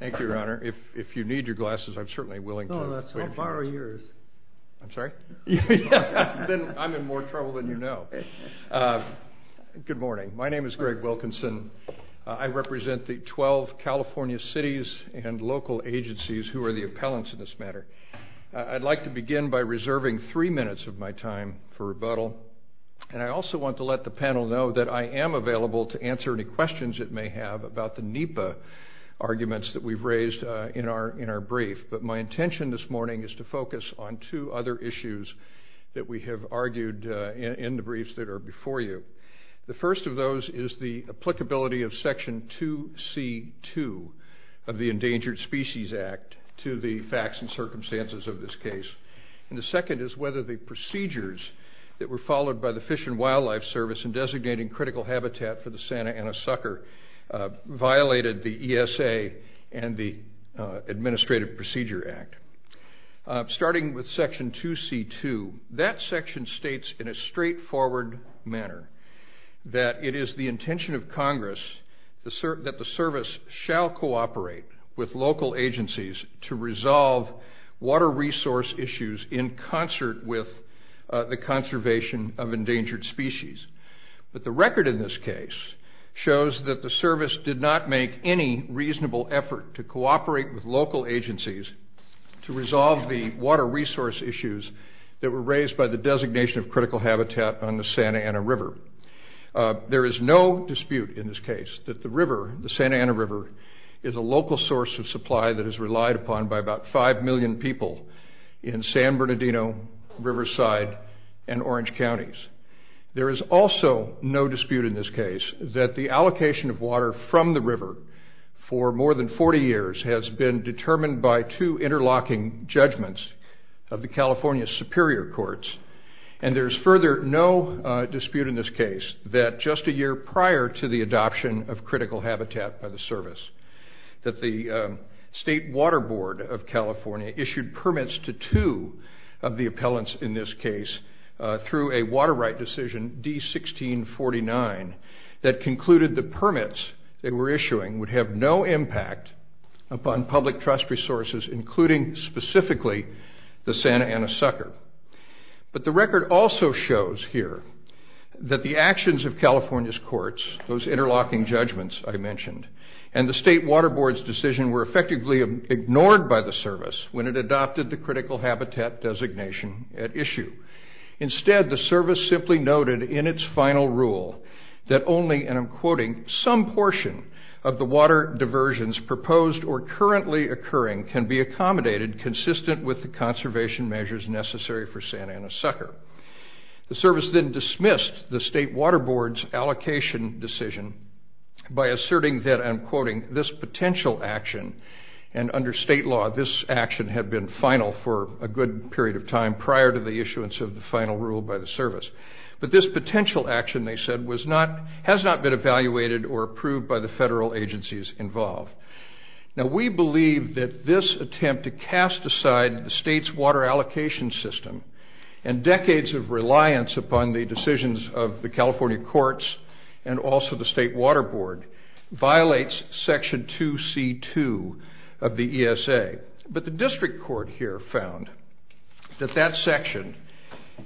Thank you, Your Honor. If you need your glasses, I'm certainly willing to put them on you. No, that's fine. I'll borrow yours. I'm sorry? Then I'm in more trouble than you know. Good morning. My name is Greg Wilkinson. I represent the 12 California cities and local agencies who are the appellants in this matter. I'd like to begin by reserving three minutes of my time for rebuttal. And I also want to let the panel know that I am available to answer any questions it may have about the NEPA arguments that we've raised in our brief. But my intention this morning is to focus on two other issues that we have argued in the briefs that are before you. The first of those is the applicability of Section 2C.2 of the Endangered Species Act to the facts and circumstances of this case. And the second is whether the procedures that were followed by the Fish and Wildlife Service in designating critical habitat for the Santa Ana sucker violated the ESA and the Administrative Procedure Act. Starting with Section 2C.2, that section states in a straightforward manner that it is the intention of Congress that the service shall cooperate with local agencies to resolve water resource issues in concert with the conservation of endangered species. But the record in this case shows that the service did not make any reasonable effort to cooperate with local agencies to resolve the water resource issues that were raised by the designation of critical habitat on the Santa Ana River. There is no dispute in this case that the river, the Santa Ana River, is a local source of supply that is relied upon by about 5 million people in San Bernardino, Riverside, and Orange Counties. There is also no dispute in this case that the allocation of water from the river for more than 40 years has been determined by two interlocking judgments of the California Superior Courts. And there is further no dispute in this case that just a year prior to the adoption of critical habitat by the service, that the State Water Board of California issued permits to two of the appellants in this case through a water right decision, D-1649, that concluded the permits they were issuing would have no impact upon public trust resources, including specifically the Santa Ana Sucker. But the record also shows here that the actions of California's courts, those interlocking judgments I mentioned, and the State Water Board's decision were effectively ignored by the service when it adopted the critical habitat designation at issue. Instead, the service simply noted in its final rule that only, and I'm quoting, some portion of the water diversions proposed or currently occurring can be accommodated consistent with the conservation measures necessary for Santa Ana Sucker. The service then dismissed the State Water Board's allocation decision by asserting that, I'm quoting, and under state law, this action had been final for a good period of time prior to the issuance of the final rule by the service. But this potential action, they said, has not been evaluated or approved by the federal agencies involved. Now, we believe that this attempt to cast aside the state's water allocation system and decades of reliance upon the decisions of the 2C2 of the ESA, but the district court here found that that section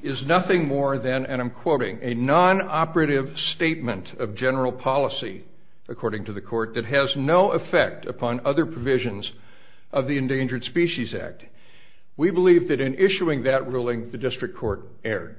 is nothing more than, and I'm quoting, a non-operative statement of general policy, according to the court, that has no effect upon other provisions of the Endangered Species Act. We believe that in issuing that ruling, the district court erred.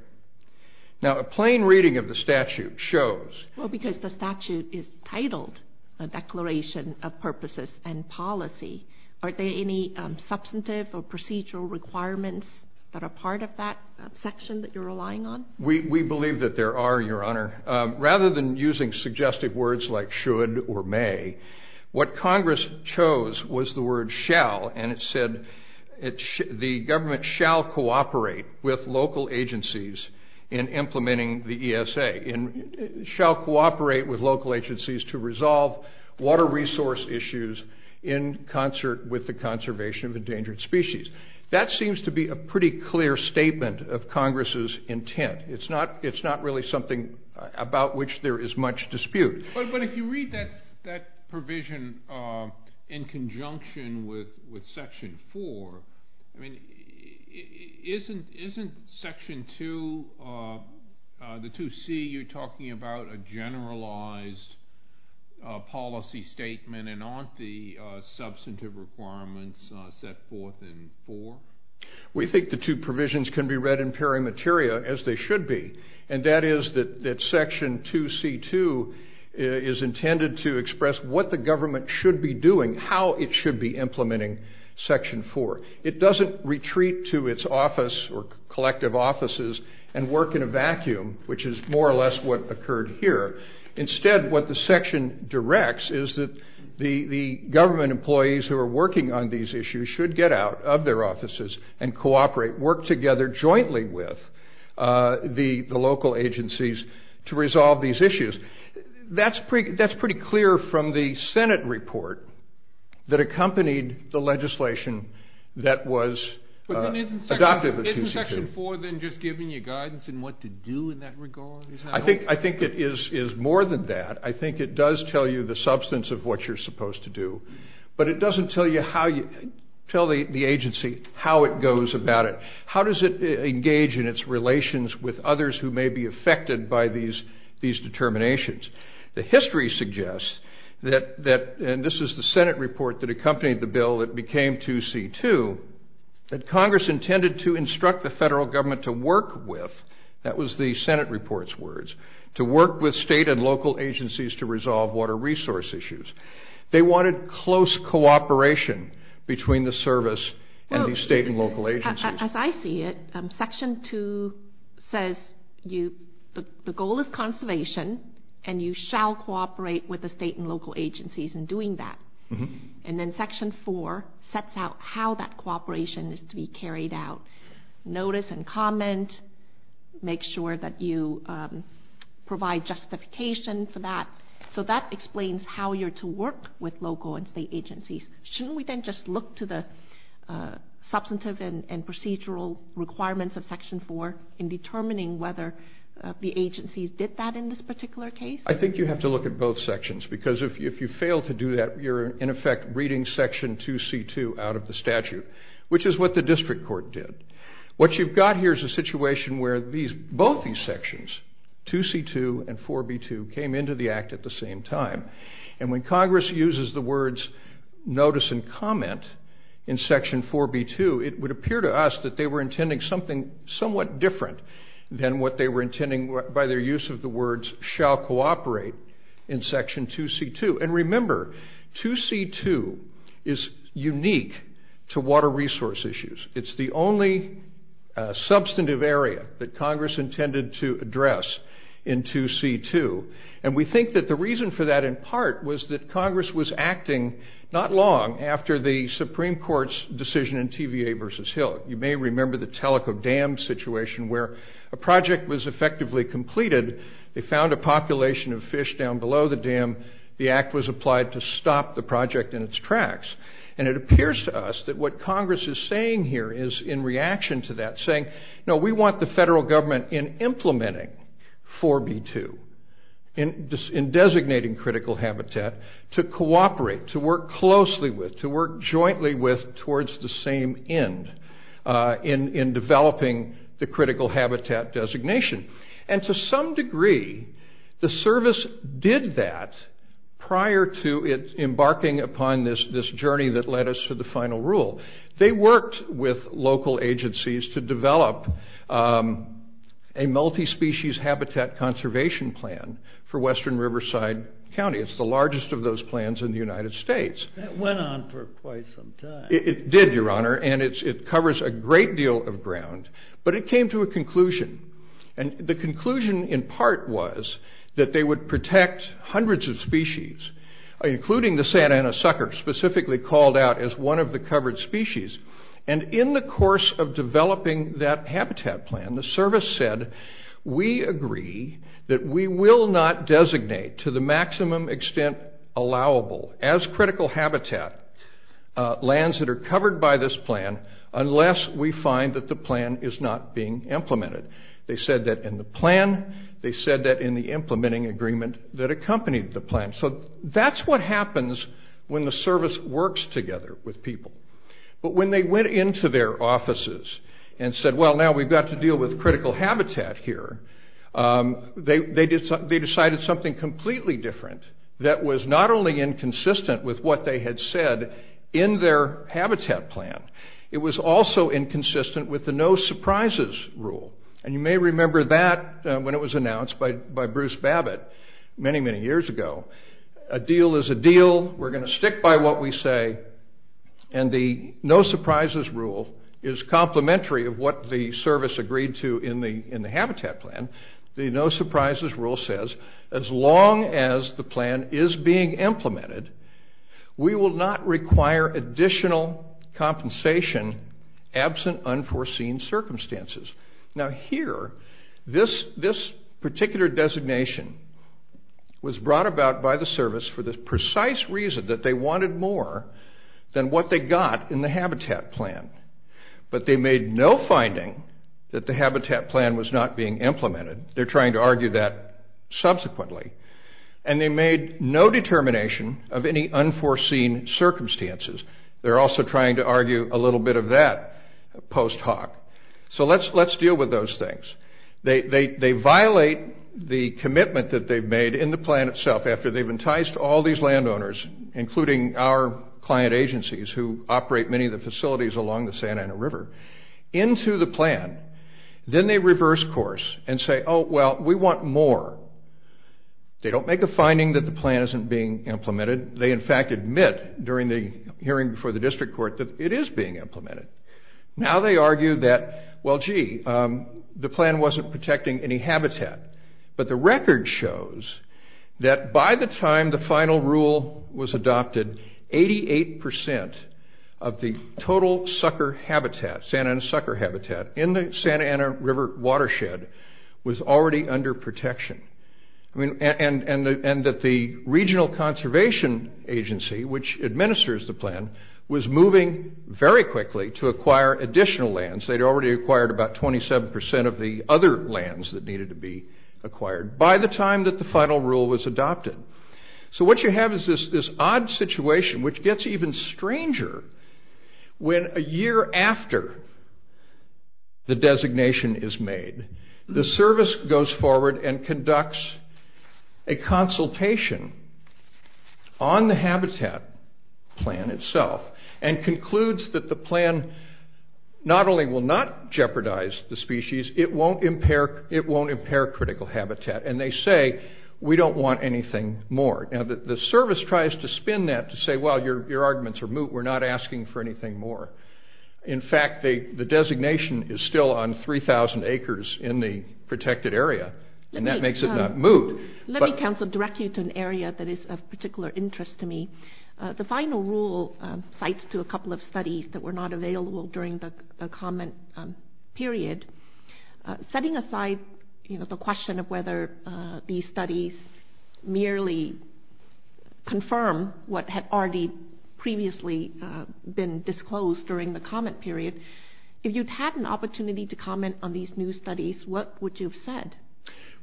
Now, a plain reading of the statute shows... Well, because the statute is titled a Declaration of Purposes and Policy. Are there any substantive or procedural requirements that are part of that section that you're relying on? We believe that there are, Your Honor. Rather than using suggestive words like should or may, what Congress chose was the word shall, and it said the government shall cooperate with local agencies in implementing the ESA. Shall cooperate with local agencies to resolve water resource issues in concert with the conservation of endangered species. That seems to be a pretty clear statement of Congress's intent. It's not really something about which there is much dispute. But if you read that provision in conjunction with Section 4, isn't Section 2, the 2C, you're talking about a generalized policy statement, and aren't the substantive requirements set forth in 4? We think the two provisions can be read in peri materia as they should be, and that is that Section 2C2 is intended to express what the government should be doing, how it should be implementing Section 4. It doesn't retreat to its office or collective offices and work in a vacuum, which is more or less what occurred here. Instead, what the section directs is that the government employees who are working on these issues should get out of their offices and cooperate, work together jointly with the local agencies to resolve these issues. That's pretty clear from the Senate report that accompanied the legislation that was adopted in 2C2. Isn't Section 4 then just giving you guidance in what to do in that regard? I think it is more than that. I think it does tell you the substance of what you're supposed to do. But it doesn't tell the agency how it goes about it. How does it engage in its relations with others who may be affected by these determinations? The history suggests that, and this is the Senate report that accompanied the bill that became 2C2, that Congress intended to instruct the federal government to work with, that was the Senate report's words, to work with state and local agencies to resolve water resource issues. They wanted close cooperation between the service and the state and local agencies. As I see it, Section 2 says the goal is conservation, and you shall cooperate with the state and local agencies in doing that. And then Section 4 sets out how that cooperation is to be carried out. Notice and comment, make sure that you provide justification for that. So that explains how you're to work with local and state agencies. Shouldn't we then just look to the substantive and procedural requirements of Section 4 in determining whether the agencies did that in this particular case? I think you have to look at both sections, because if you fail to do that, you're in effect reading Section 2C2 out of the statute, which is what the district court did. What you've got here is a situation where both these sections, 2C2 and 4B2, came into the act at the same time. And when Congress uses the words notice and comment in Section 4B2, it would appear to us that they were intending something somewhat different than what they were intending by their use of the words shall cooperate in Section 2C2. And remember, 2C2 is unique to water resource issues. It's the only substantive area that Congress intended to address in 2C2. And we think that the reason for that in part was that Congress was acting not long after the Supreme Court's decision in TVA v. Hill. You may remember the Teleco Dam situation where a project was effectively completed. They found a population of fish down below the dam. The act was applied to stop the project in its tracks. And it appears to us that what Congress is saying here is in reaction to that, saying, no, we want the federal government in implementing 4B2, in designating critical habitat, to cooperate, to work closely with, to work jointly with towards the same end in developing the critical habitat designation. And to some degree, the service did that prior to embarking upon this journey that led us to the final rule. They worked with local agencies to develop a multi-species habitat conservation plan for western Riverside County. It's the largest of those plans in the United States. That went on for quite some time. It did, Your Honor, and it covers a great deal of ground. But it came to a conclusion. And the conclusion, in part, was that they would protect hundreds of species, including the Santa Ana sucker, specifically called out as one of the covered species. And in the course of developing that habitat plan, the service said, we agree that we will not designate, to the maximum extent allowable, as critical habitat lands that are covered by this plan unless we find that the plan is not being implemented. They said that in the plan. They said that in the implementing agreement that accompanied the plan. So that's what happens when the service works together with people. But when they went into their offices and said, well, now we've got to deal with critical habitat here, they decided something completely different that was not only inconsistent with what they had said in their habitat plan, it was also inconsistent with the no surprises rule. And you may remember that when it was announced by Bruce Babbitt many, many years ago. A deal is a deal. We're going to stick by what we say. And the no surprises rule is complementary of what the service agreed to in the habitat plan. The no surprises rule says, as long as the plan is being implemented, we will not require additional compensation absent unforeseen circumstances. Now here, this particular designation was brought about by the service for the precise reason that they wanted more than what they got in the habitat plan. But they made no finding that the habitat plan was not being implemented. They're trying to argue that subsequently. And they made no determination of any unforeseen circumstances. They're also trying to argue a little bit of that post hoc. So let's deal with those things. They violate the commitment that they've made in the plan itself after they've enticed all these landowners, including our client agencies who operate many of the facilities along the Santa Ana River, into the plan. Then they reverse course and say, oh, well, we want more. They don't make a finding that the plan isn't being implemented. They, in fact, admit during the hearing before the district court that it is being implemented. Now they argue that, well, gee, the plan wasn't protecting any habitat. But the record shows that by the time the final rule was adopted, 88% of the total sucker habitat, Santa Ana sucker habitat, in the Santa Ana River watershed was already under protection. And that the Regional Conservation Agency, which administers the plan, was moving very quickly to acquire additional lands. They'd already acquired about 27% of the other lands that needed to be acquired by the time that the final rule was adopted. So what you have is this odd situation which gets even stranger when a year after the designation is made, the service goes forward and conducts a consultation on the habitat plan itself and concludes that the plan not only will not jeopardize the species, it won't impair critical habitat. And they say, we don't want anything more. Now the service tries to spin that to say, well, your arguments are moot. We're not asking for anything more. In fact, the designation is still on 3,000 acres in the protected area, and that makes it not moot. Let me direct you to an area that is of particular interest to me. The final rule cites to a couple of studies that were not available during the comment period. Setting aside the question of whether these studies merely confirm what had already previously been disclosed during the comment period, if you'd had an opportunity to comment on these new studies, what would you have said?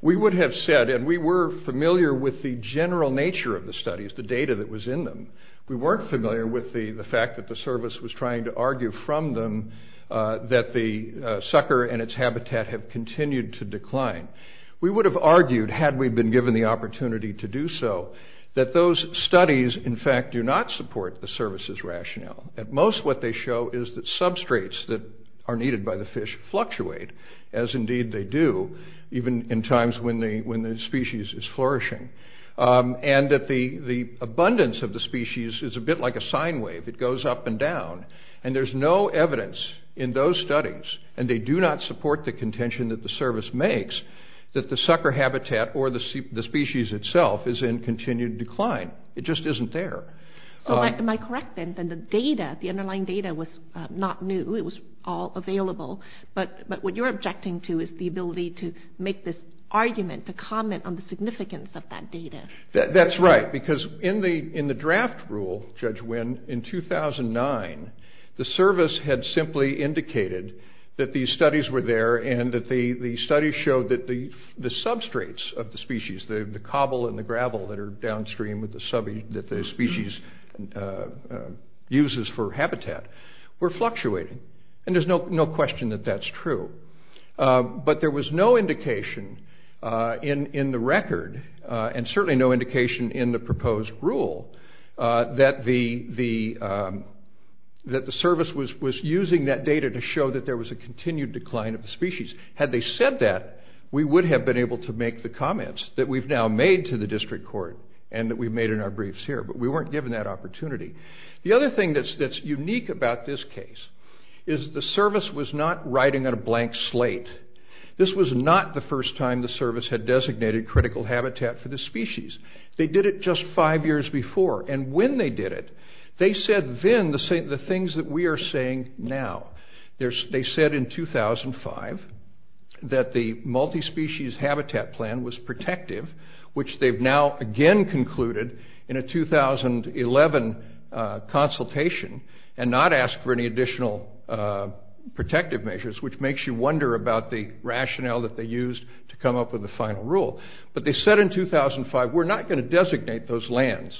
We would have said, and we were familiar with the general nature of the studies, the data that was in them. We weren't familiar with the fact that the service was trying to argue from them that the sucker and its habitat have continued to decline. We would have argued, had we been given the opportunity to do so, that those studies, in fact, do not support the service's rationale. At most, what they show is that substrates that are needed by the fish fluctuate, and that the abundance of the species is a bit like a sine wave. It goes up and down. And there's no evidence in those studies, and they do not support the contention that the service makes, that the sucker habitat or the species itself is in continued decline. It just isn't there. Am I correct, then, that the underlying data was not new? It was all available? But what you're objecting to is the ability to make this argument, to comment on the significance of that data. That's right, because in the draft rule, Judge Wynn, in 2009, the service had simply indicated that these studies were there and that the studies showed that the substrates of the species, the cobble and the gravel that are downstream that the species uses for habitat, were fluctuating. And there's no question that that's true. But there was no indication in the record, and certainly no indication in the proposed rule, that the service was using that data to show that there was a continued decline of the species. Had they said that, we would have been able to make the comments that we've now made to the district court and that we've made in our briefs here, but we weren't given that opportunity. The other thing that's unique about this case is the service was not writing on a blank slate. This was not the first time the service had designated critical habitat for the species. They did it just five years before. And when they did it, they said then the things that we are saying now. They said in 2005 that the multi-species habitat plan was protective, which they've now again concluded in a 2011 consultation and not asked for any additional protective measures, which makes you wonder about the rationale that they used to come up with the final rule. But they said in 2005, we're not going to designate those lands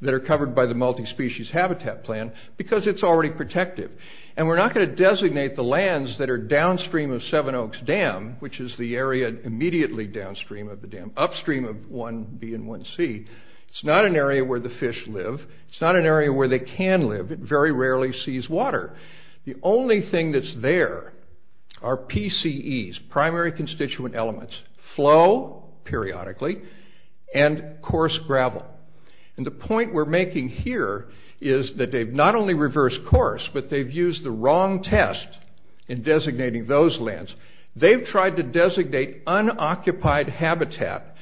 that are covered by the multi-species habitat plan, because it's already protective. And we're not going to designate the lands that are downstream of Seven Oaks Dam, which is the area immediately downstream of the dam, upstream of 1B and 1C. It's not an area where the fish live. It's not an area where they can live. It very rarely sees water. The only thing that's there are PCEs, primary constituent elements, flow periodically, and coarse gravel. And the point we're making here is that they've not only reversed course, but they've used the wrong test in designating those lands. They've tried to designate unoccupied habitat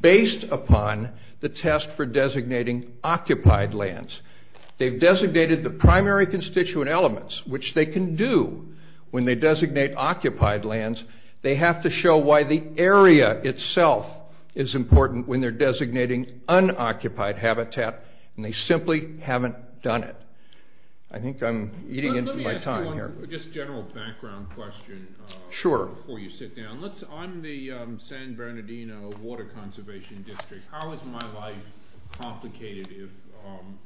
based upon the test for designating occupied lands. They've designated the primary constituent elements, which they can do when they designate occupied lands. They have to show why the area itself is important when they're designating unoccupied habitat, and they simply haven't done it. I think I'm eating into my time here. Let me ask you a general background question before you sit down. On the San Bernardino Water Conservation District, how is my life complicated if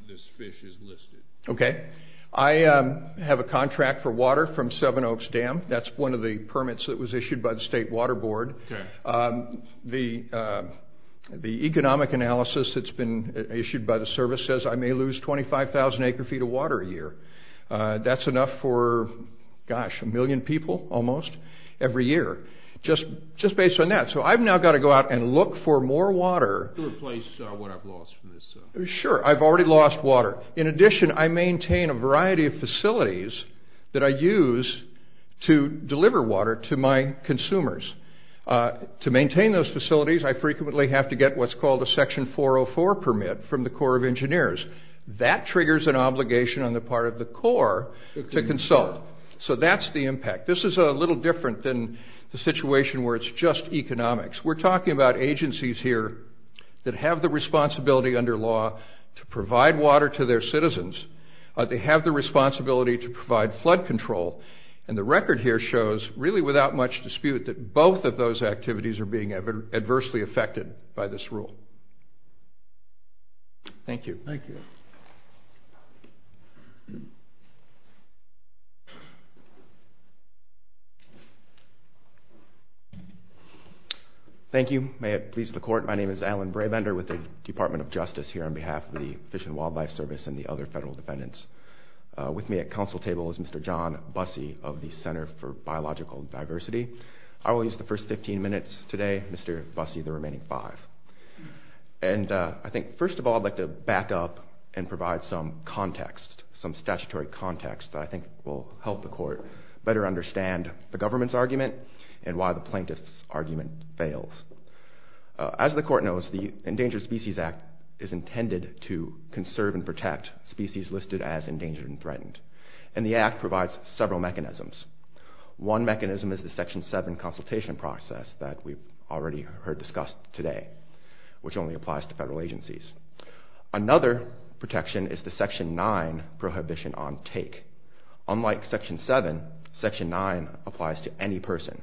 this fish is listed? Okay. I have a contract for water from Seven Oaks Dam. That's one of the permits that was issued by the State Water Board. Okay. The economic analysis that's been issued by the service says I may lose 25,000 acre-feet of water a year. That's enough for, gosh, a million people almost every year. Just based on that. So I've now got to go out and look for more water. To replace what I've lost from this. Sure. I've already lost water. In addition, I maintain a variety of facilities that I use to deliver water to my consumers. To maintain those facilities, I frequently have to get what's called a Section 404 permit from the Corps of Engineers. That triggers an obligation on the part of the Corps to consult. So that's the impact. This is a little different than the situation where it's just economics. We're talking about agencies here that have the responsibility under law to provide water to their citizens. They have the responsibility to provide flood control. And the record here shows, really without much dispute, that both of those activities are being adversely affected by this rule. Thank you. Thank you. Thank you. May it please the Court. My name is Alan Brabender with the Department of Justice here on behalf of the Fish and Wildlife Service and the other federal defendants. With me at council table is Mr. John Busse of the Center for Biological Diversity. I will use the first 15 minutes today. Mr. Busse, the remaining five. And I think, first of all, I'd like to back up and provide some context, some statutory context that I think will help the Court better understand the government's argument and why the plaintiff's argument fails. As the Court knows, the Endangered Species Act is intended to conserve and protect species listed as endangered and threatened. And the Act provides several mechanisms. One mechanism is the Section 7 consultation process that we've already heard discussed today, which only applies to federal agencies. Another protection is the Section 9 prohibition on take. Unlike Section 7, Section 9 applies to any person.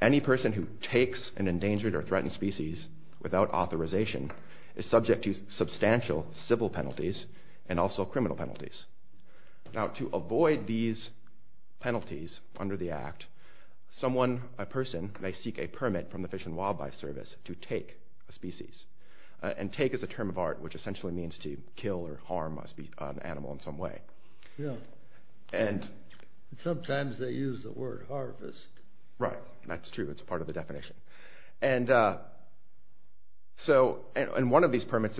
Any person who takes an endangered or threatened species without authorization is subject to substantial civil penalties and also criminal penalties. Now, to avoid these penalties under the Act, someone, a person, may seek a permit from the Fish and Wildlife Service to take a species. And take is a term of art which essentially means to kill or harm an animal in some way. Yeah. And... Sometimes they use the word harvest. Right. That's true. It's part of the definition. And one of these permits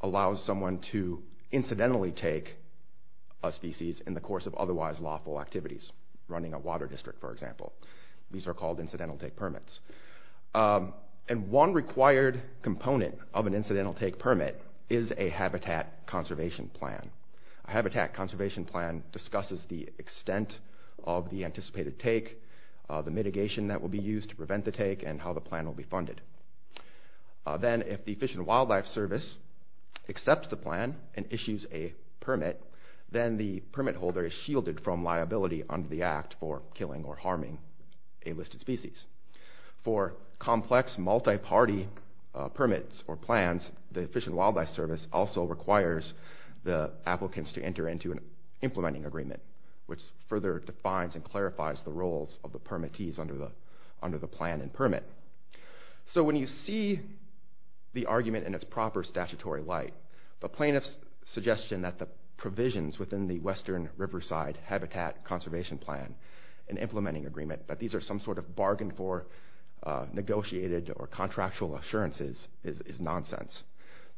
allows someone to incidentally take a species in the course of otherwise lawful activities, running a water district, for example. These are called incidental take permits. And one required component of an incidental take permit is a habitat conservation plan. A habitat conservation plan discusses the extent of the anticipated take, the mitigation that will be used to prevent the take, and how the plan will be funded. Then if the Fish and Wildlife Service accepts the plan and issues a permit, then the permit holder is shielded from liability under the Act for killing or harming a listed species. For complex multi-party permits or plans, the Fish and Wildlife Service also requires the applicants to enter into an implementing agreement, which further defines and clarifies the roles of the permittees under the plan and permit. So when you see the argument in its proper statutory light, the plaintiff's suggestion that the provisions within the Western Riverside Habitat Conservation Plan, an implementing agreement, that these are some sort of bargain for negotiated or contractual assurances is nonsense.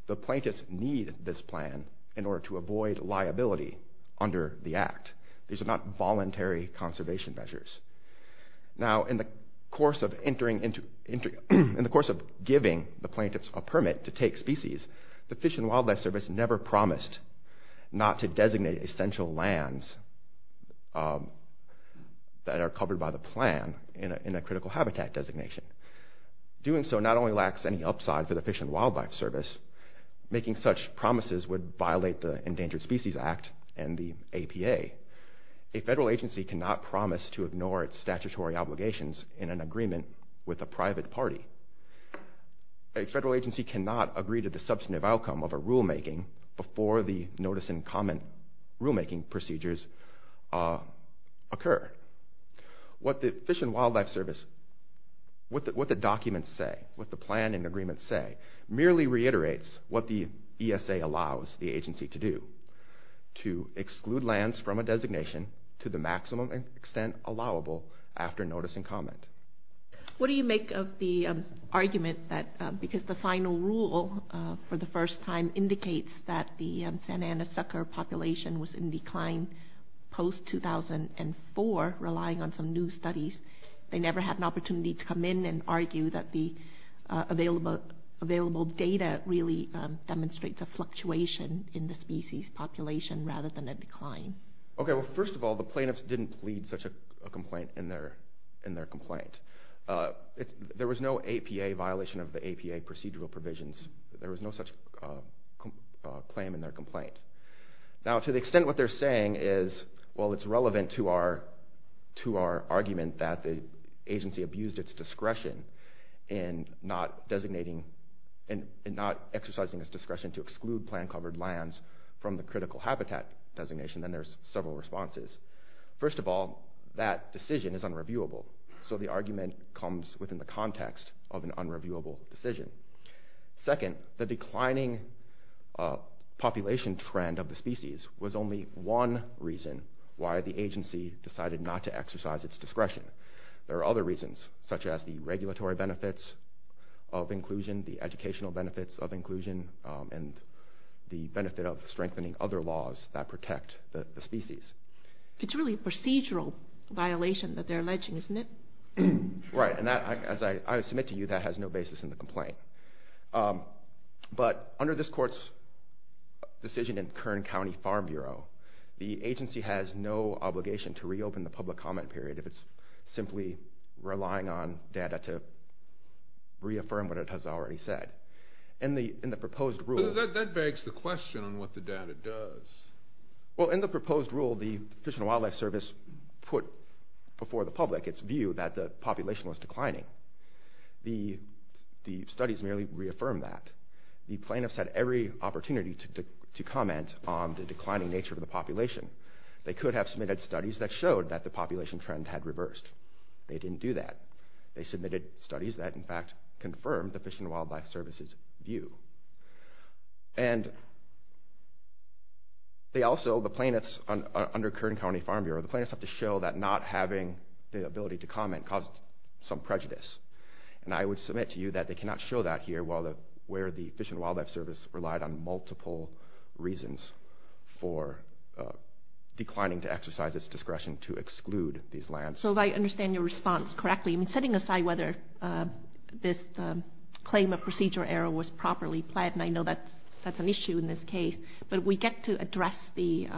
The plaintiffs need this plan in order to avoid liability under the Act. These are not voluntary conservation measures. Now, in the course of giving the plaintiffs a permit to take species, the Fish and Wildlife Service never promised not to designate essential lands that are covered by the plan in a critical habitat designation. Doing so not only lacks any upside for the Fish and Wildlife Service, making such promises would violate the Endangered Species Act and the APA. A federal agency cannot promise to ignore its statutory obligations in an agreement with a private party. A federal agency cannot agree to the substantive outcome of a rulemaking before the notice and comment rulemaking procedures occur. What the Fish and Wildlife Service, what the documents say, what the plan and agreements say, merely reiterates what the ESA allows the agency to do, to exclude lands from a designation to the maximum extent allowable after notice and comment. What do you make of the argument that because the final rule for the first time was in decline post-2004, relying on some new studies, they never had an opportunity to come in and argue that the available data really demonstrates a fluctuation in the species population rather than a decline? First of all, the plaintiffs didn't plead such a complaint in their complaint. There was no APA violation of the APA procedural provisions. There was no such claim in their complaint. Now, to the extent what they're saying is, well, it's relevant to our argument that the agency abused its discretion in not exercising its discretion to exclude plan-covered lands from the critical habitat designation, then there's several responses. First of all, that decision is unreviewable, so the argument comes within the context of an unreviewable decision. Second, the declining population trend of the species was only one reason why the agency decided not to exercise its discretion. There are other reasons, such as the regulatory benefits of inclusion, the educational benefits of inclusion, and the benefit of strengthening other laws that protect the species. It's really a procedural violation that they're alleging, isn't it? Right, and as I submit to you, that has no basis in the complaint. But under this court's decision in Kern County Farm Bureau, the agency has no obligation to reopen the public comment period if it's simply relying on data to reaffirm what it has already said. That begs the question on what the data does. In the proposed rule, the Fish and Wildlife Service put before the public its view that the population was declining. The studies merely reaffirmed that. The plaintiffs had every opportunity to comment on the declining nature of the population. They could have submitted studies that showed that the population trend had reversed. They didn't do that. They submitted studies that, in fact, confirmed the Fish and Wildlife Service's view. And they also, the plaintiffs under Kern County Farm Bureau, the plaintiffs have to show that not having the ability to comment caused some prejudice. And I would submit to you that they cannot show that here where the Fish and Wildlife Service relied on multiple reasons for declining to exercise its discretion to exclude these lands. So if I understand your response correctly, setting aside whether this claim of procedure error was properly pled, and I know that's an issue in this case, but we get to address the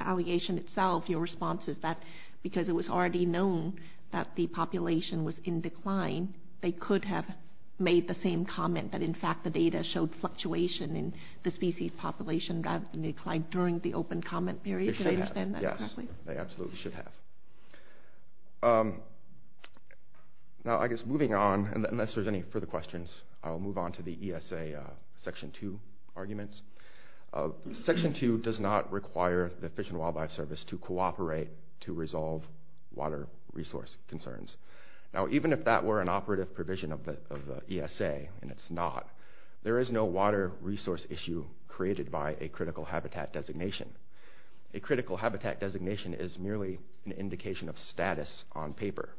allegation itself. Your response is that because it was already known that the population was in decline, they could have made the same comment that, in fact, the data showed fluctuation in the species population rather than decline during the open comment period. Can I understand that correctly? Yes, they absolutely should have. Now, I guess moving on, unless there's any further questions, I'll move on to the ESA Section 2 arguments. Section 2 does not require the Fish and Wildlife Service to cooperate to resolve water resource concerns. Now, even if that were an operative provision of the ESA, and it's not, there is no water resource issue created by a critical habitat designation. A critical habitat designation is merely an indication of status on paper.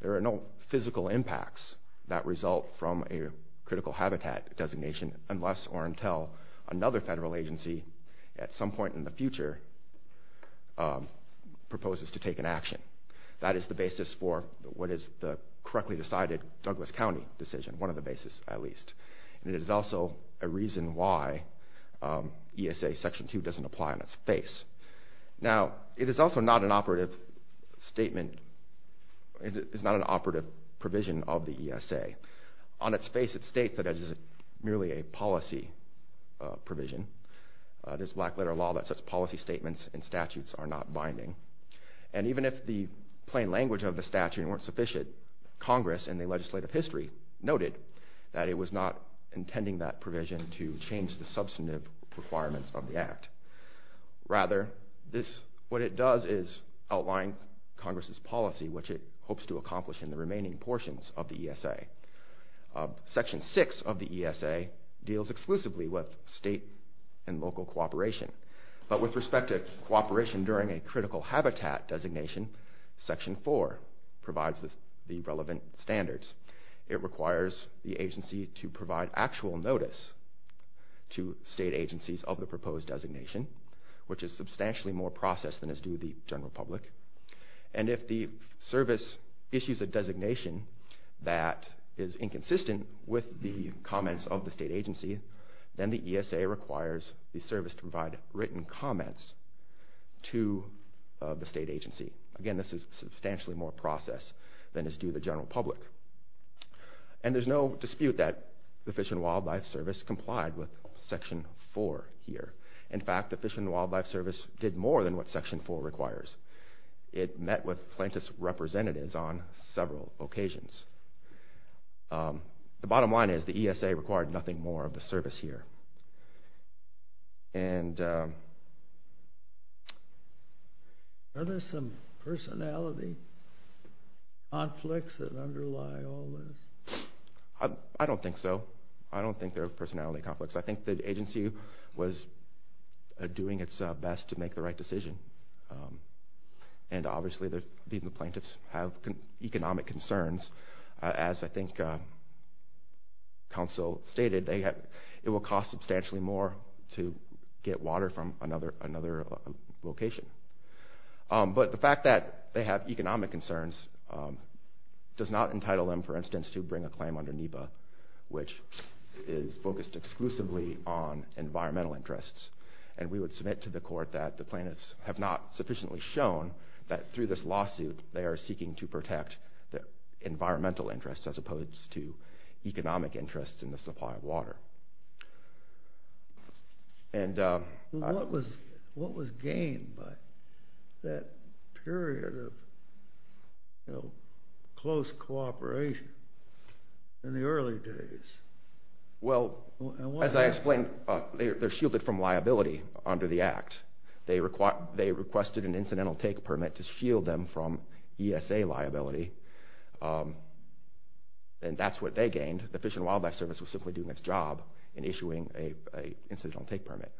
There are no physical impacts that result from a critical habitat designation unless or until another federal agency, at some point in the future, proposes to take an action. That is the basis for what is the correctly decided Douglas County decision, one of the bases, at least. And it is also a reason why ESA Section 2 doesn't apply on its face. Now, it is also not an operative statement. It is not an operative provision of the ESA. On its face, it states that it is merely a policy provision. It is black letter law that such policy statements and statutes are not binding. And even if the plain language of the statute weren't sufficient, Congress in the legislative history noted that it was not intending that provision to change the substantive requirements of the Act. Rather, what it does is outline Congress's policy, which it hopes to accomplish in the remaining portions of the ESA. Section 6 of the ESA deals exclusively with state and local cooperation. But with respect to cooperation during a critical habitat designation, Section 4 provides the relevant standards. It requires the agency to provide actual notice to state agencies of the proposed designation, which is substantially more processed than is due to the general public. And if the service issues a designation that is inconsistent with the comments of the state agency, then the ESA requires the service to provide written comments to the state agency. Again, this is substantially more processed than is due to the general public. And there's no dispute that the Fish and Wildlife Service complied with Section 4 here. In fact, the Fish and Wildlife Service did more than what Section 4 requires. It met with plaintiff's representatives on several occasions. The bottom line is the ESA required nothing more of the service here. And... Are there some personality conflicts that underlie all this? I don't think so. I don't think there are personality conflicts. I think the agency was doing its best to make the right decision. And obviously the plaintiffs have economic concerns. As I think counsel stated, it will cost substantially more to get water from another location. But the fact that they have economic concerns does not entitle them, for instance, to bring a claim under NEPA, which is focused exclusively on environmental interests. And we would submit to the court that the plaintiffs have not sufficiently shown that through this lawsuit they are seeking to protect their environmental interests as opposed to economic interests in the supply of water. And... What was gained by that period of close cooperation in the early days? Well, as I explained, they're shielded from liability under the Act. They requested an incidental take permit to shield them from ESA liability. And that's what they gained. The Fish and Wildlife Service was simply doing its job in issuing an incidental take permit.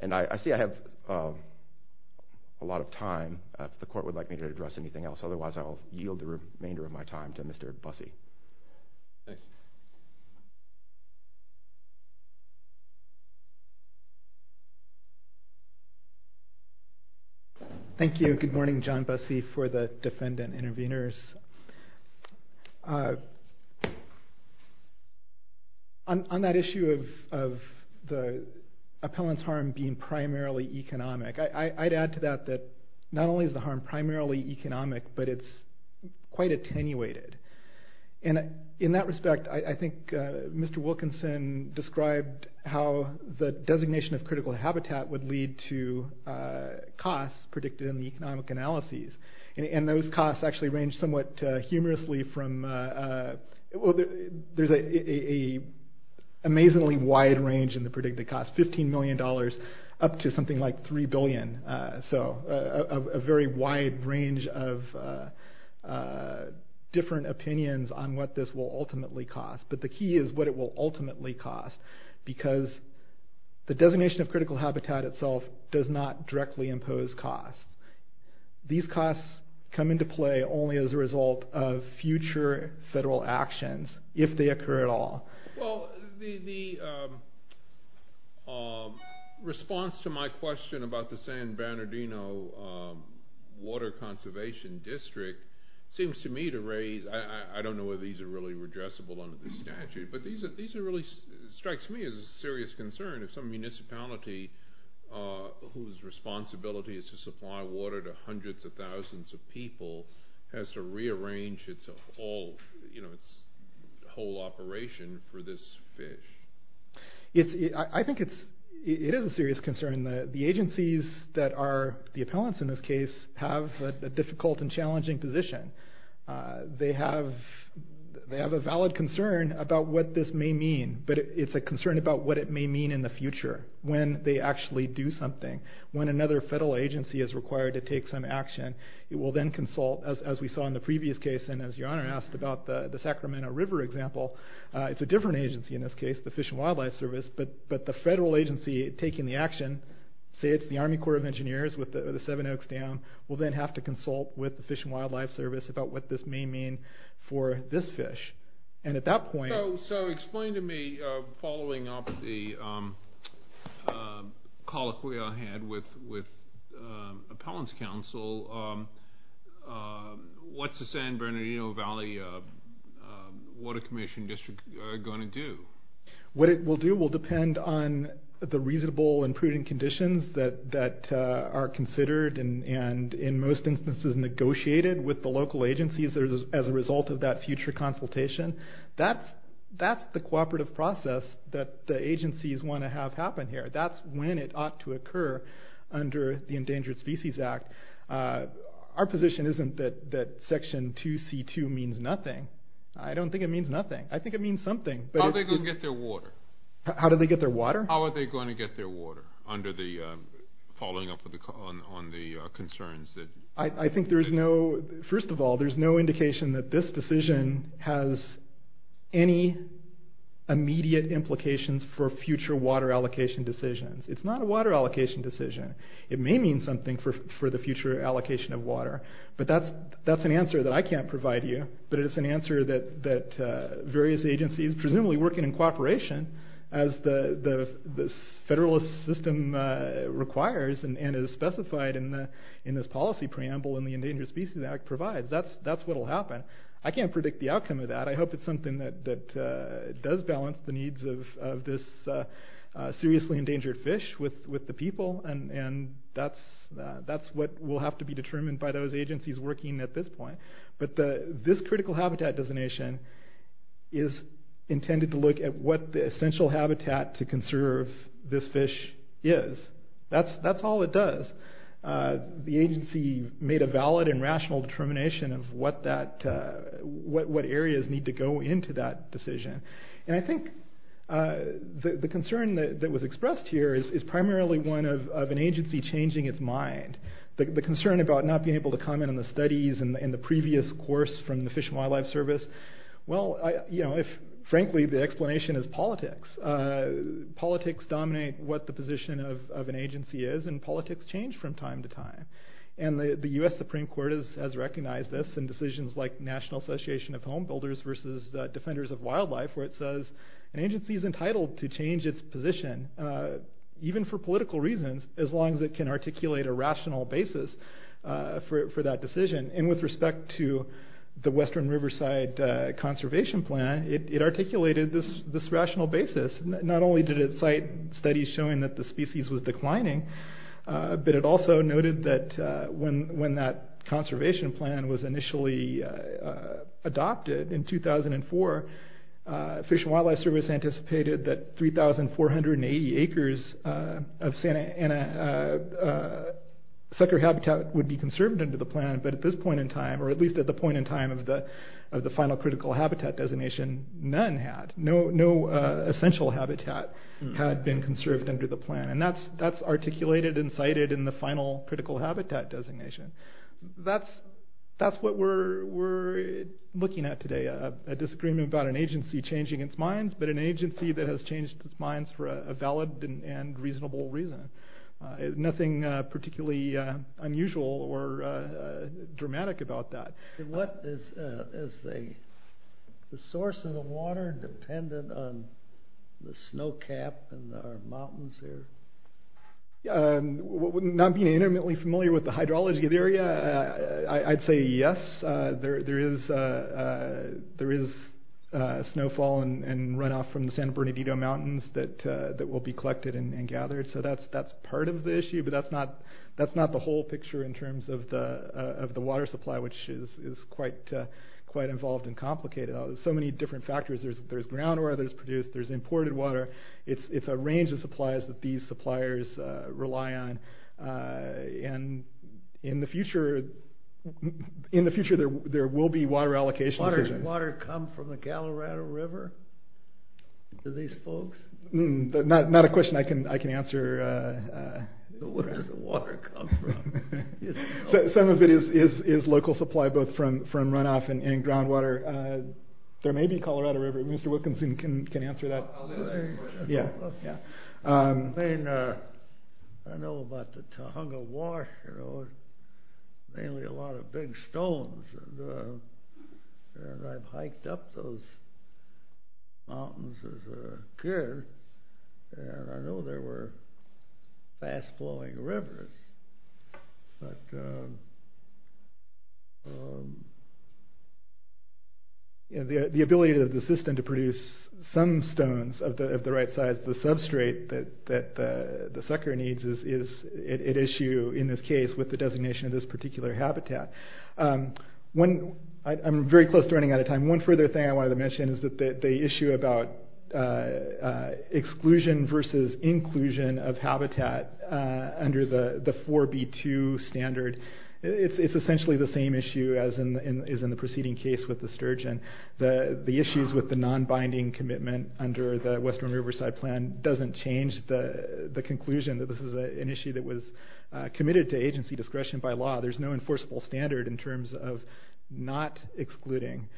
And I see I have a lot of time. If the court would like me to address anything else, otherwise I will yield the remainder of my time to Mr. Busse. Thanks. Thank you. Good morning. John Busse for the defendant intervenors. On that issue of the appellant's harm being primarily economic, I'd add to that that not only is the harm primarily economic, but it's quite attenuated. And in that respect, I think Mr. Wilkinson described how the designation of critical habitat would lead to costs predicted in the economic analyses. And those costs actually range somewhat humorously from... Well, there's an amazingly wide range in the predicted cost, $15 million up to something like $3 billion. So a very wide range of different opinions on what this will ultimately cost. But the key is what it will ultimately cost, because the designation of critical habitat itself does not directly impose costs. These costs come into play only as a result of future federal actions, if they occur at all. Well, the response to my question about the San Bernardino Water Conservation District seems to me to raise... But these really strike me as a serious concern if some municipality whose responsibility is to supply water to hundreds of thousands of people has to rearrange its whole operation for this fish. I think it is a serious concern. The agencies that are the appellants in this case have a difficult and challenging position. They have a valid concern about what this may mean, but it's a concern about what it may mean in the future, when they actually do something. When another federal agency is required to take some action, it will then consult, as we saw in the previous case, and as your Honor asked about the Sacramento River example, it's a different agency in this case, the Fish and Wildlife Service, but the federal agency taking the action, say it's the Army Corps of Engineers with the Seven Oaks Dam, will then have to consult with the Fish and Wildlife Service about what this may mean for this fish. And at that point... So explain to me, following up the colloquy I had with Appellants Council, what's the San Bernardino Valley Water Conservation District going to do? What it will do will depend on the reasonable and prudent conditions that are considered and, in most instances, negotiated with the local agencies as a result of that future consultation. That's the cooperative process that the agencies want to have happen here. That's when it ought to occur under the Endangered Species Act. Our position isn't that Section 2C2 means nothing. I don't think it means nothing. I think it means something. How are they going to get their water? How do they get their water? How are they going to get their water, following up on the concerns? First of all, there's no indication that this decision has any immediate implications for future water allocation decisions. It's not a water allocation decision. It may mean something for the future allocation of water, but that's an answer that I can't provide you, but it's an answer that various agencies, presumably working in cooperation as the Federalist system requires and is specified in this policy preamble in the Endangered Species Act, provides. That's what will happen. I can't predict the outcome of that. I hope it's something that does balance the needs of this seriously endangered fish with the people, and that's what will have to be determined by those agencies working at this point. This critical habitat designation is intended to look at what the essential habitat to conserve this fish is. That's all it does. The agency made a valid and rational determination of what areas need to go into that decision. I think the concern that was expressed here is primarily one of an agency changing its mind. The concern about not being able to comment on the studies and the previous course from the Fish and Wildlife Service, well, frankly, the explanation is politics. Politics dominate what the position of an agency is, and politics change from time to time. The U.S. Supreme Court has recognized this in decisions like National Association of Home Builders versus Defenders of Wildlife, where it says an agency is entitled to change its position, even for political reasons, as long as it can articulate a rational basis for that decision. With respect to the Western Riverside Conservation Plan, it articulated this rational basis. Not only did it cite studies showing that the species was declining, but it also noted that when that conservation plan was initially adopted in 2004, Fish and Wildlife Service anticipated that sucker habitat would be conserved under the plan, but at this point in time, or at least at the point in time of the final critical habitat designation, none had. No essential habitat had been conserved under the plan, and that's articulated and cited in the final critical habitat designation. That's what we're looking at today, a disagreement about an agency changing its mind, but an agency that has changed its mind for a valid and reasonable reason. Nothing particularly unusual or dramatic about that. What is the source of the water dependent on the snow cap in the mountains here? Not being intimately familiar with the hydrology of the area, I'd say yes, there is snowfall and runoff from the San Bernardino Mountains that will be collected and gathered, so that's part of the issue, but that's not the whole picture in terms of the water supply, which is quite involved and complicated. There's so many different factors. There's groundwater that's produced. There's imported water. It's a range of supplies that these suppliers rely on, and in the future, there will be water allocation decisions. Does the water come from the Colorado River to these folks? Not a question I can answer. Where does the water come from? Some of it is local supply, both from runoff and groundwater. There may be Colorado River. Mr. Wilkinson can answer that. I'll do that. I know about the Tohono O'odham Wash. Mainly a lot of big stones, and I've hiked up those mountains as a kid, and I know there were fast-flowing rivers. The ability of the system to produce some stones of the right size, and the ability to get the right amount of water The big problem is that the substrate that the sucker needs is at issue in this case with the designation of this particular habitat. I'm very close to running out of time. One further thing I wanted to mention is that the issue about exclusion versus inclusion of habitat under the 4B2 standard, it's essentially the same issue as in the preceding case with the sturgeon. The issues with the non-binding commitment under the Western Riverside Plan doesn't change the conclusion that this is an issue that was committed to agency discretion by law. There's no enforceable standard in terms of not excluding.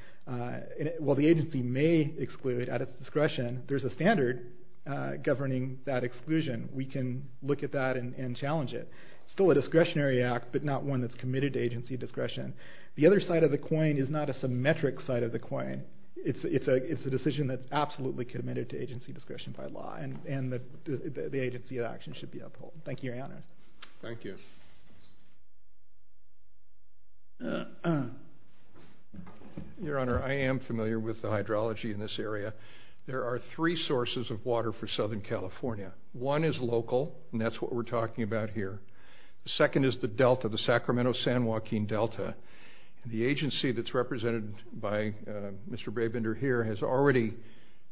While the agency may exclude at its discretion, there's a standard governing that exclusion. We can look at that and challenge it. It's still a discretionary act, but not one that's committed to agency discretion. The other side of the coin is not a symmetric side of the coin. It's a decision that's absolutely committed to agency discretion by law, and the agency of action should be upheld. Thank you, Your Honor. Thank you. Your Honor, I am familiar with the hydrology in this area. There are three sources of water for Southern California. One is local, and that's what we're talking about here. The second is the delta, the Sacramento-San Joaquin Delta. The agency that's represented by Mr. Brabender here has already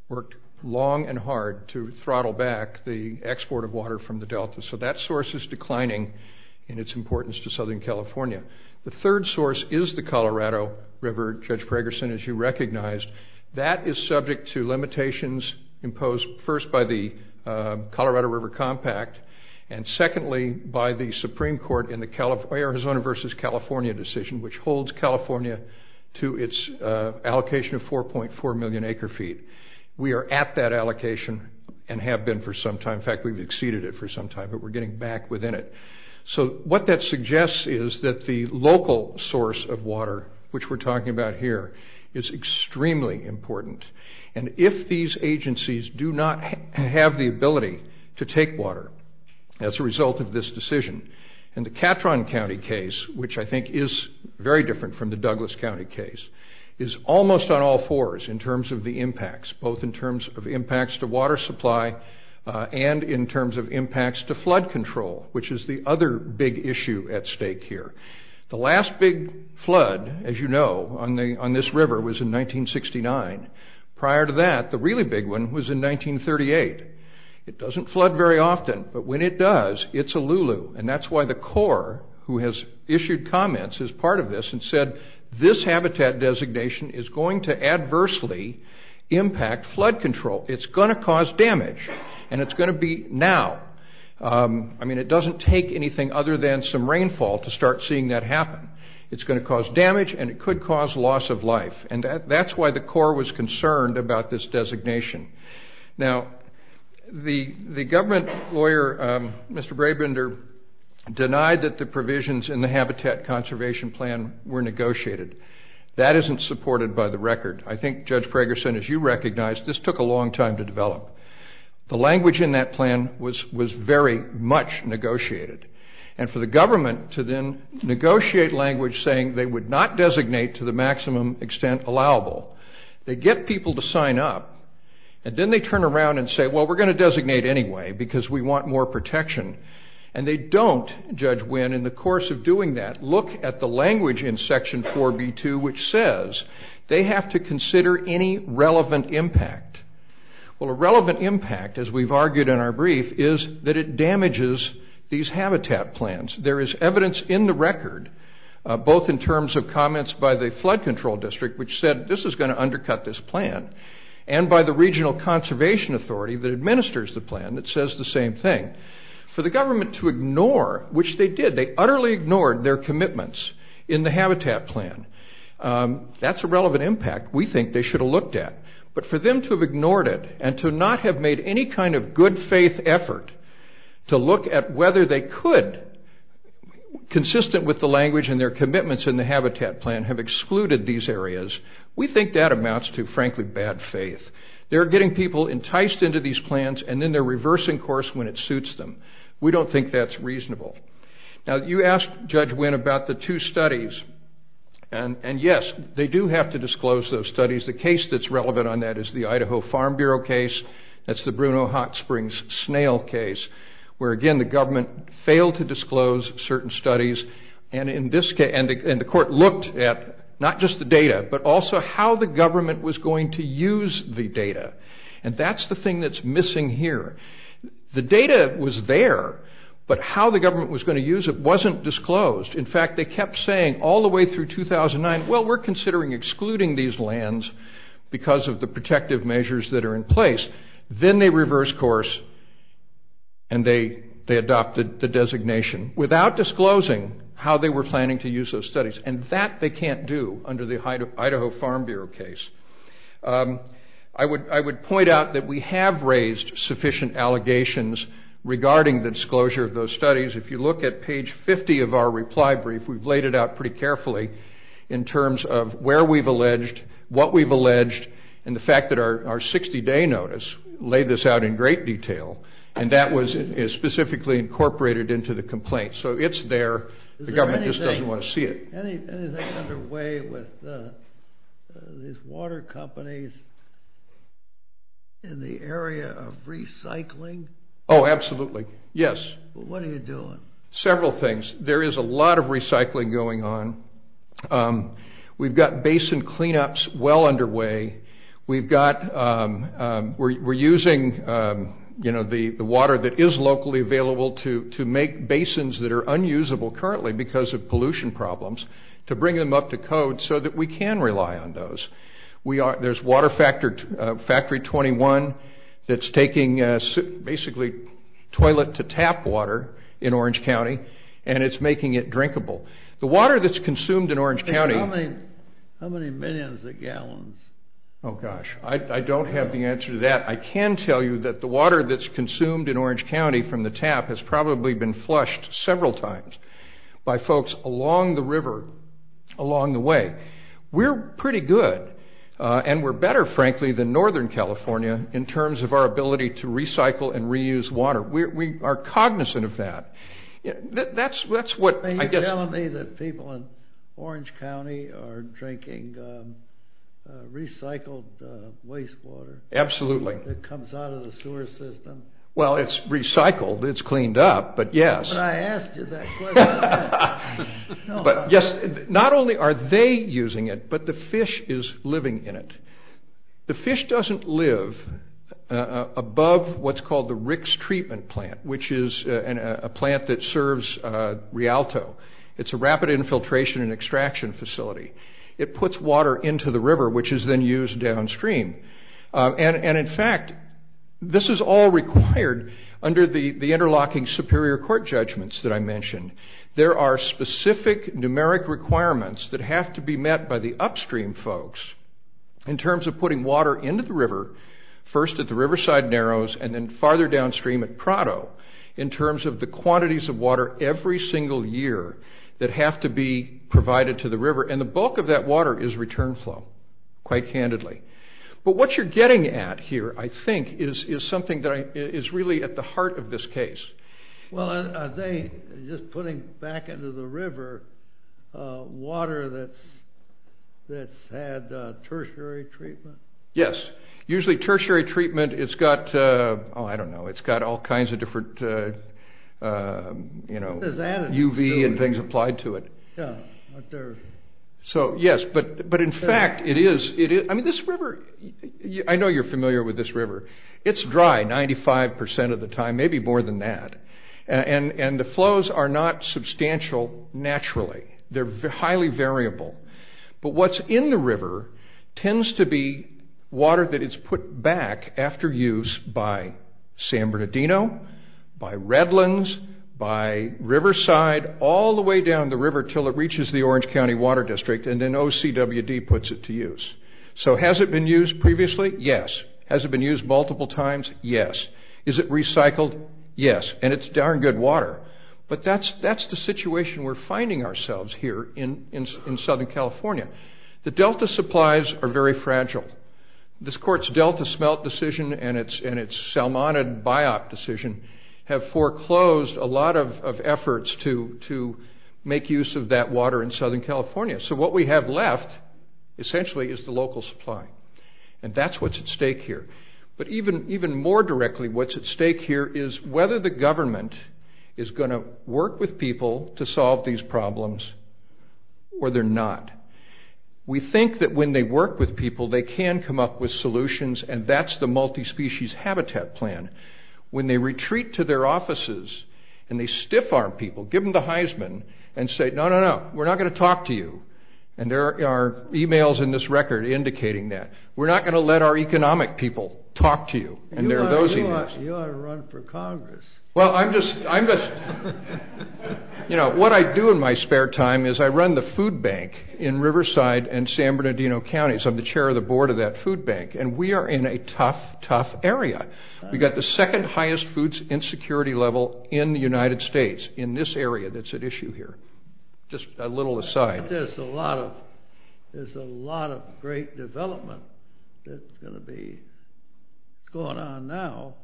worked long and hard to throttle back the export of water from the delta, so that source is declining in its importance to Southern California. The third source is the Colorado River, Judge Pragerson, as you recognized. That is subject to limitations imposed first by the Colorado River Compact and secondly by the Supreme Court in the Arizona v. California decision, which holds California to its allocation of 4.4 million acre-feet. We are at that allocation and have been for some time. In fact, we've exceeded it for some time, but we're getting back within it. So what that suggests is that the local source of water, which we're talking about here, is extremely important, and if these agencies do not have the ability to take water as a result of this decision. And the Catron County case, which I think is very different from the Douglas County case, is almost on all fours in terms of the impacts, both in terms of impacts to water supply and in terms of impacts to flood control, which is the other big issue at stake here. The last big flood, as you know, on this river was in 1969. Prior to that, the really big one was in 1938. It doesn't flood very often, but when it does, it's a lulu. And that's why the Corps, who has issued comments as part of this, and said this habitat designation is going to adversely impact flood control. It's going to cause damage, and it's going to be now. I mean, it doesn't take anything other than some rainfall to start seeing that happen. It's going to cause damage, and it could cause loss of life. And that's why the Corps was concerned about this designation. Now, the government lawyer, Mr. Brabender, denied that the provisions in the Habitat Conservation Plan were negotiated. That isn't supported by the record. I think, Judge Pragerson, as you recognize, this took a long time to develop. The language in that plan was very much negotiated. And for the government to then negotiate language saying they would not designate to the maximum extent allowable, they get people to sign up, and then they turn around and say, well, we're going to designate anyway because we want more protection. And they don't, Judge Wynn, in the course of doing that, look at the language in Section 4B2 which says they have to consider any relevant impact. Well, a relevant impact, as we've argued in our brief, is that it damages these habitat plans. There is evidence in the record, both in terms of comments by the Flood Control District, which said this is going to undercut this plan, and by the Regional Conservation Authority that administers the plan that says the same thing. For the government to ignore, which they did, they utterly ignored their commitments in the Habitat Plan, that's a relevant impact we think they should have looked at. But for them to have ignored it and to not have made any kind of good faith effort to look at whether they could, consistent with the language and their commitments in the Habitat Plan, have excluded these areas, we think that amounts to, frankly, bad faith. They're getting people enticed into these plans, and then they're reversing course when it suits them. We don't think that's reasonable. Now, you asked Judge Wynn about the two studies, and yes, they do have to disclose those studies. The case that's relevant on that is the Idaho Farm Bureau case. That's the Bruno Hot Springs snail case, where, again, the government failed to disclose certain studies, and the court looked at not just the data, but also how the government was going to use the data. And that's the thing that's missing here. The data was there, but how the government was going to use it wasn't disclosed. In fact, they kept saying all the way through 2009, well, we're considering excluding these lands because of the protective measures that are in place. Then they reversed course and they adopted the designation without disclosing how they were planning to use those studies, and that they can't do under the Idaho Farm Bureau case. I would point out that we have raised sufficient allegations regarding the disclosure of those studies. If you look at page 50 of our reply brief, we've laid it out pretty carefully in terms of where we've alleged, what we've alleged, and the fact that our 60-day notice laid this out in great detail, and that was specifically incorporated into the complaint. So it's there. The government just doesn't want to see it. Is there anything underway with these water companies in the area of recycling? Oh, absolutely, yes. What are you doing? Several things. There is a lot of recycling going on. We've got basin cleanups well underway. We're using the water that is locally available to make basins that are unusable currently because of pollution problems to bring them up to code so that we can rely on those. There's Water Factory 21 that's taking basically toilet-to-tap water in Orange County, and it's making it drinkable. The water that's consumed in Orange County... How many millions of gallons? Oh, gosh. I don't have the answer to that. I can tell you that the water that's consumed in Orange County from the tap has probably been flushed several times by folks along the river along the way. We're pretty good, and we're better, frankly, than Northern California in terms of our ability to recycle and reuse water. We are cognizant of that. Are you telling me that people in Orange County are drinking recycled wastewater... Absolutely. ...that comes out of the sewer system? Well, it's recycled. It's cleaned up, but yes. But I asked you that question. Not only are they using it, but the fish is living in it. The fish doesn't live above what's called the Ricks Treatment Plant, which is a plant that serves Rialto. It's a rapid infiltration and extraction facility. It puts water into the river, which is then used downstream. And, in fact, this is all required under the interlocking Superior Court judgments that I mentioned. There are specific numeric requirements that have to be met by the upstream folks in terms of putting water into the river first at the Riverside Narrows and then farther downstream at Prado in terms of the quantities of water every single year that have to be provided to the river. And the bulk of that water is return flow, quite candidly. But what you're getting at here, I think, is something that is really at the heart of this case. Well, are they just putting back into the river water that's had tertiary treatment? Yes. Usually tertiary treatment, it's got, oh, I don't know, it's got all kinds of different, you know, UV and things applied to it. Yeah. So, yes, but, in fact, it is. I mean, this river, I know you're familiar with this river. It's dry 95% of the time, maybe more than that. And the flows are not substantial naturally. They're highly variable. But what's in the river tends to be water that is put back after use by San Bernardino, by Redlands, by Riverside, all the way down the river until it reaches the Orange County Water District and then OCWD puts it to use. So has it been used previously? Yes. Has it been used multiple times? Yes. Is it recycled? Yes. And it's darn good water. But that's the situation we're finding ourselves here in Southern California. The Delta supplies are very fragile. This court's Delta smelt decision and its Salmonid biop decision have foreclosed a lot of efforts to make use of that water in Southern California. So what we have left, essentially, is the local supply. And that's what's at stake here. But even more directly, what's at stake here is whether the government is going to work with people to solve these problems or they're not. We think that when they work with people, they can come up with solutions, and that's the multi-species habitat plan. When they retreat to their offices and they stiff-arm people, give them the Heisman and say, no, no, no, we're not going to talk to you. And there are e-mails in this record indicating that. We're not going to let our economic people talk to you. And there are those e-mails. You ought to run for Congress. Well, I'm just, you know, what I do in my spare time is I run the food bank in Riverside and San Bernardino counties. I'm the chair of the board of that food bank. And we are in a tough, tough area. We've got the second highest foods insecurity level in the United States in this area that's at issue here. Just a little aside. But there's a lot of great development that's going to be going on now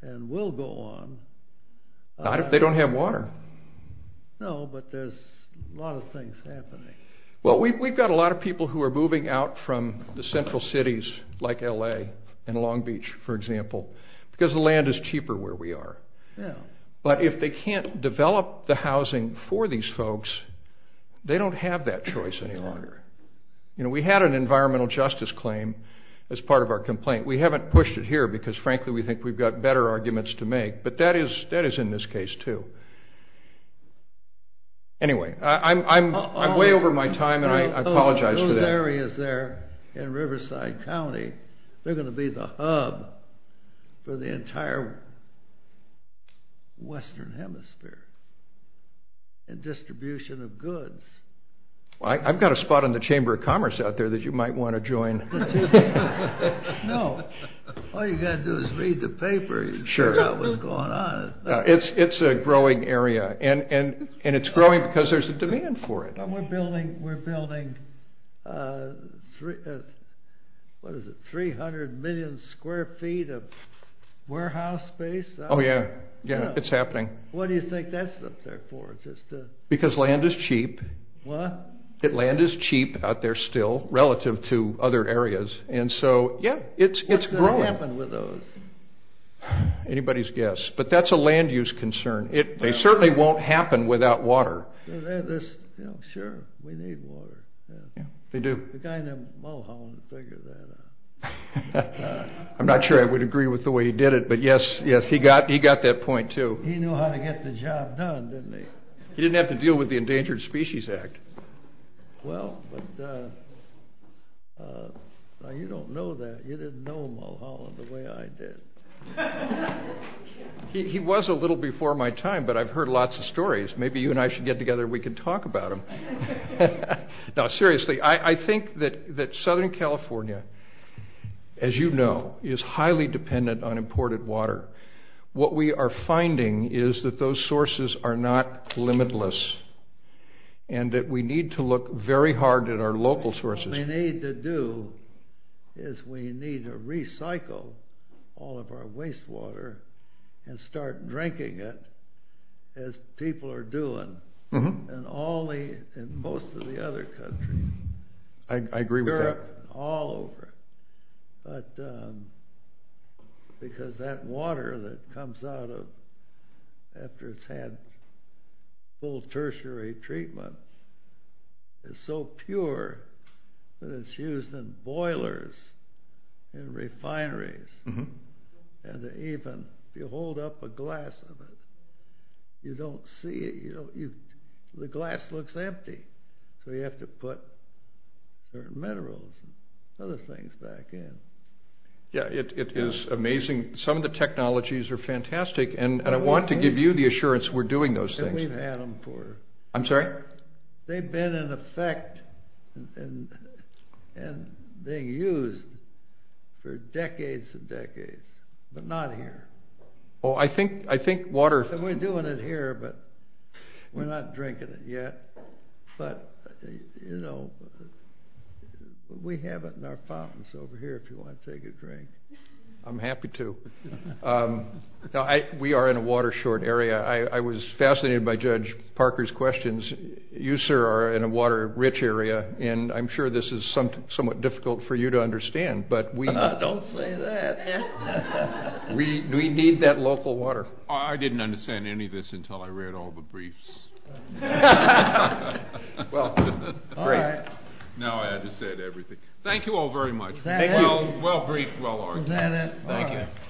and will go on. Not if they don't have water. No, but there's a lot of things happening. Well, we've got a lot of people who are moving out from the central cities like L.A. and Long Beach, for example, because the land is cheaper where we are. But if they can't develop the housing for these folks, they don't have that choice any longer. You know, we had an environmental justice claim as part of our complaint. We haven't pushed it here because, frankly, we think we've got better arguments to make, but that is in this case too. Anyway, I'm way over my time, and I apologize for that. Those areas there in Riverside County, they're going to be the hub for the entire western hemisphere in distribution of goods. Well, I've got a spot in the Chamber of Commerce out there that you might want to join. No, all you've got to do is read the paper and figure out what's going on. It's a growing area, and it's growing because there's a demand for it. We're building 300 million square feet of warehouse space. Oh, yeah. Yeah, it's happening. What do you think that's up there for? Because land is cheap. What? Land is cheap out there still relative to other areas, and so, yeah, it's growing. What's going to happen with those? Anybody's guess, but that's a land use concern. They certainly won't happen without water. Sure, we need water. Yeah, they do. The guy named Mulholland figured that out. I'm not sure I would agree with the way he did it, but yes, he got that point too. He knew how to get the job done, didn't he? He didn't have to deal with the Endangered Species Act. Well, but you don't know that. You didn't know Mulholland the way I did. He was a little before my time, but I've heard lots of stories. Maybe you and I should get together and we can talk about them. Now, seriously, I think that Southern California, as you know, is highly dependent on imported water. What we are finding is that those sources are not limitless and that we need to look very hard at our local sources. What we need to do is we need to recycle all of our wastewater and start drinking it as people are doing in most of the other countries. I agree with that. But because that water that comes out after it's had full tertiary treatment is so pure that it's used in boilers and refineries. And even if you hold up a glass of it, you don't see it. The glass looks empty, so you have to put certain minerals and other things back in. Yeah, it is amazing. Some of the technologies are fantastic, and I want to give you the assurance we're doing those things. And we've had them for... I'm sorry? They've been in effect and being used for decades and decades, but not here. Oh, I think water... We're doing it here, but we're not drinking it yet. But, you know, we have it in our fountains over here if you want to take a drink. I'm happy to. We are in a water short area. I was fascinated by Judge Parker's questions. You, sir, are in a water-rich area, and I'm sure this is somewhat difficult for you to understand, but we... Don't say that. We need that local water. I didn't understand any of this until I read all the briefs. Well, great. Now I had to say everything. Thank you all very much. Was that it? Well briefed, well argued. Was that it? Thank you.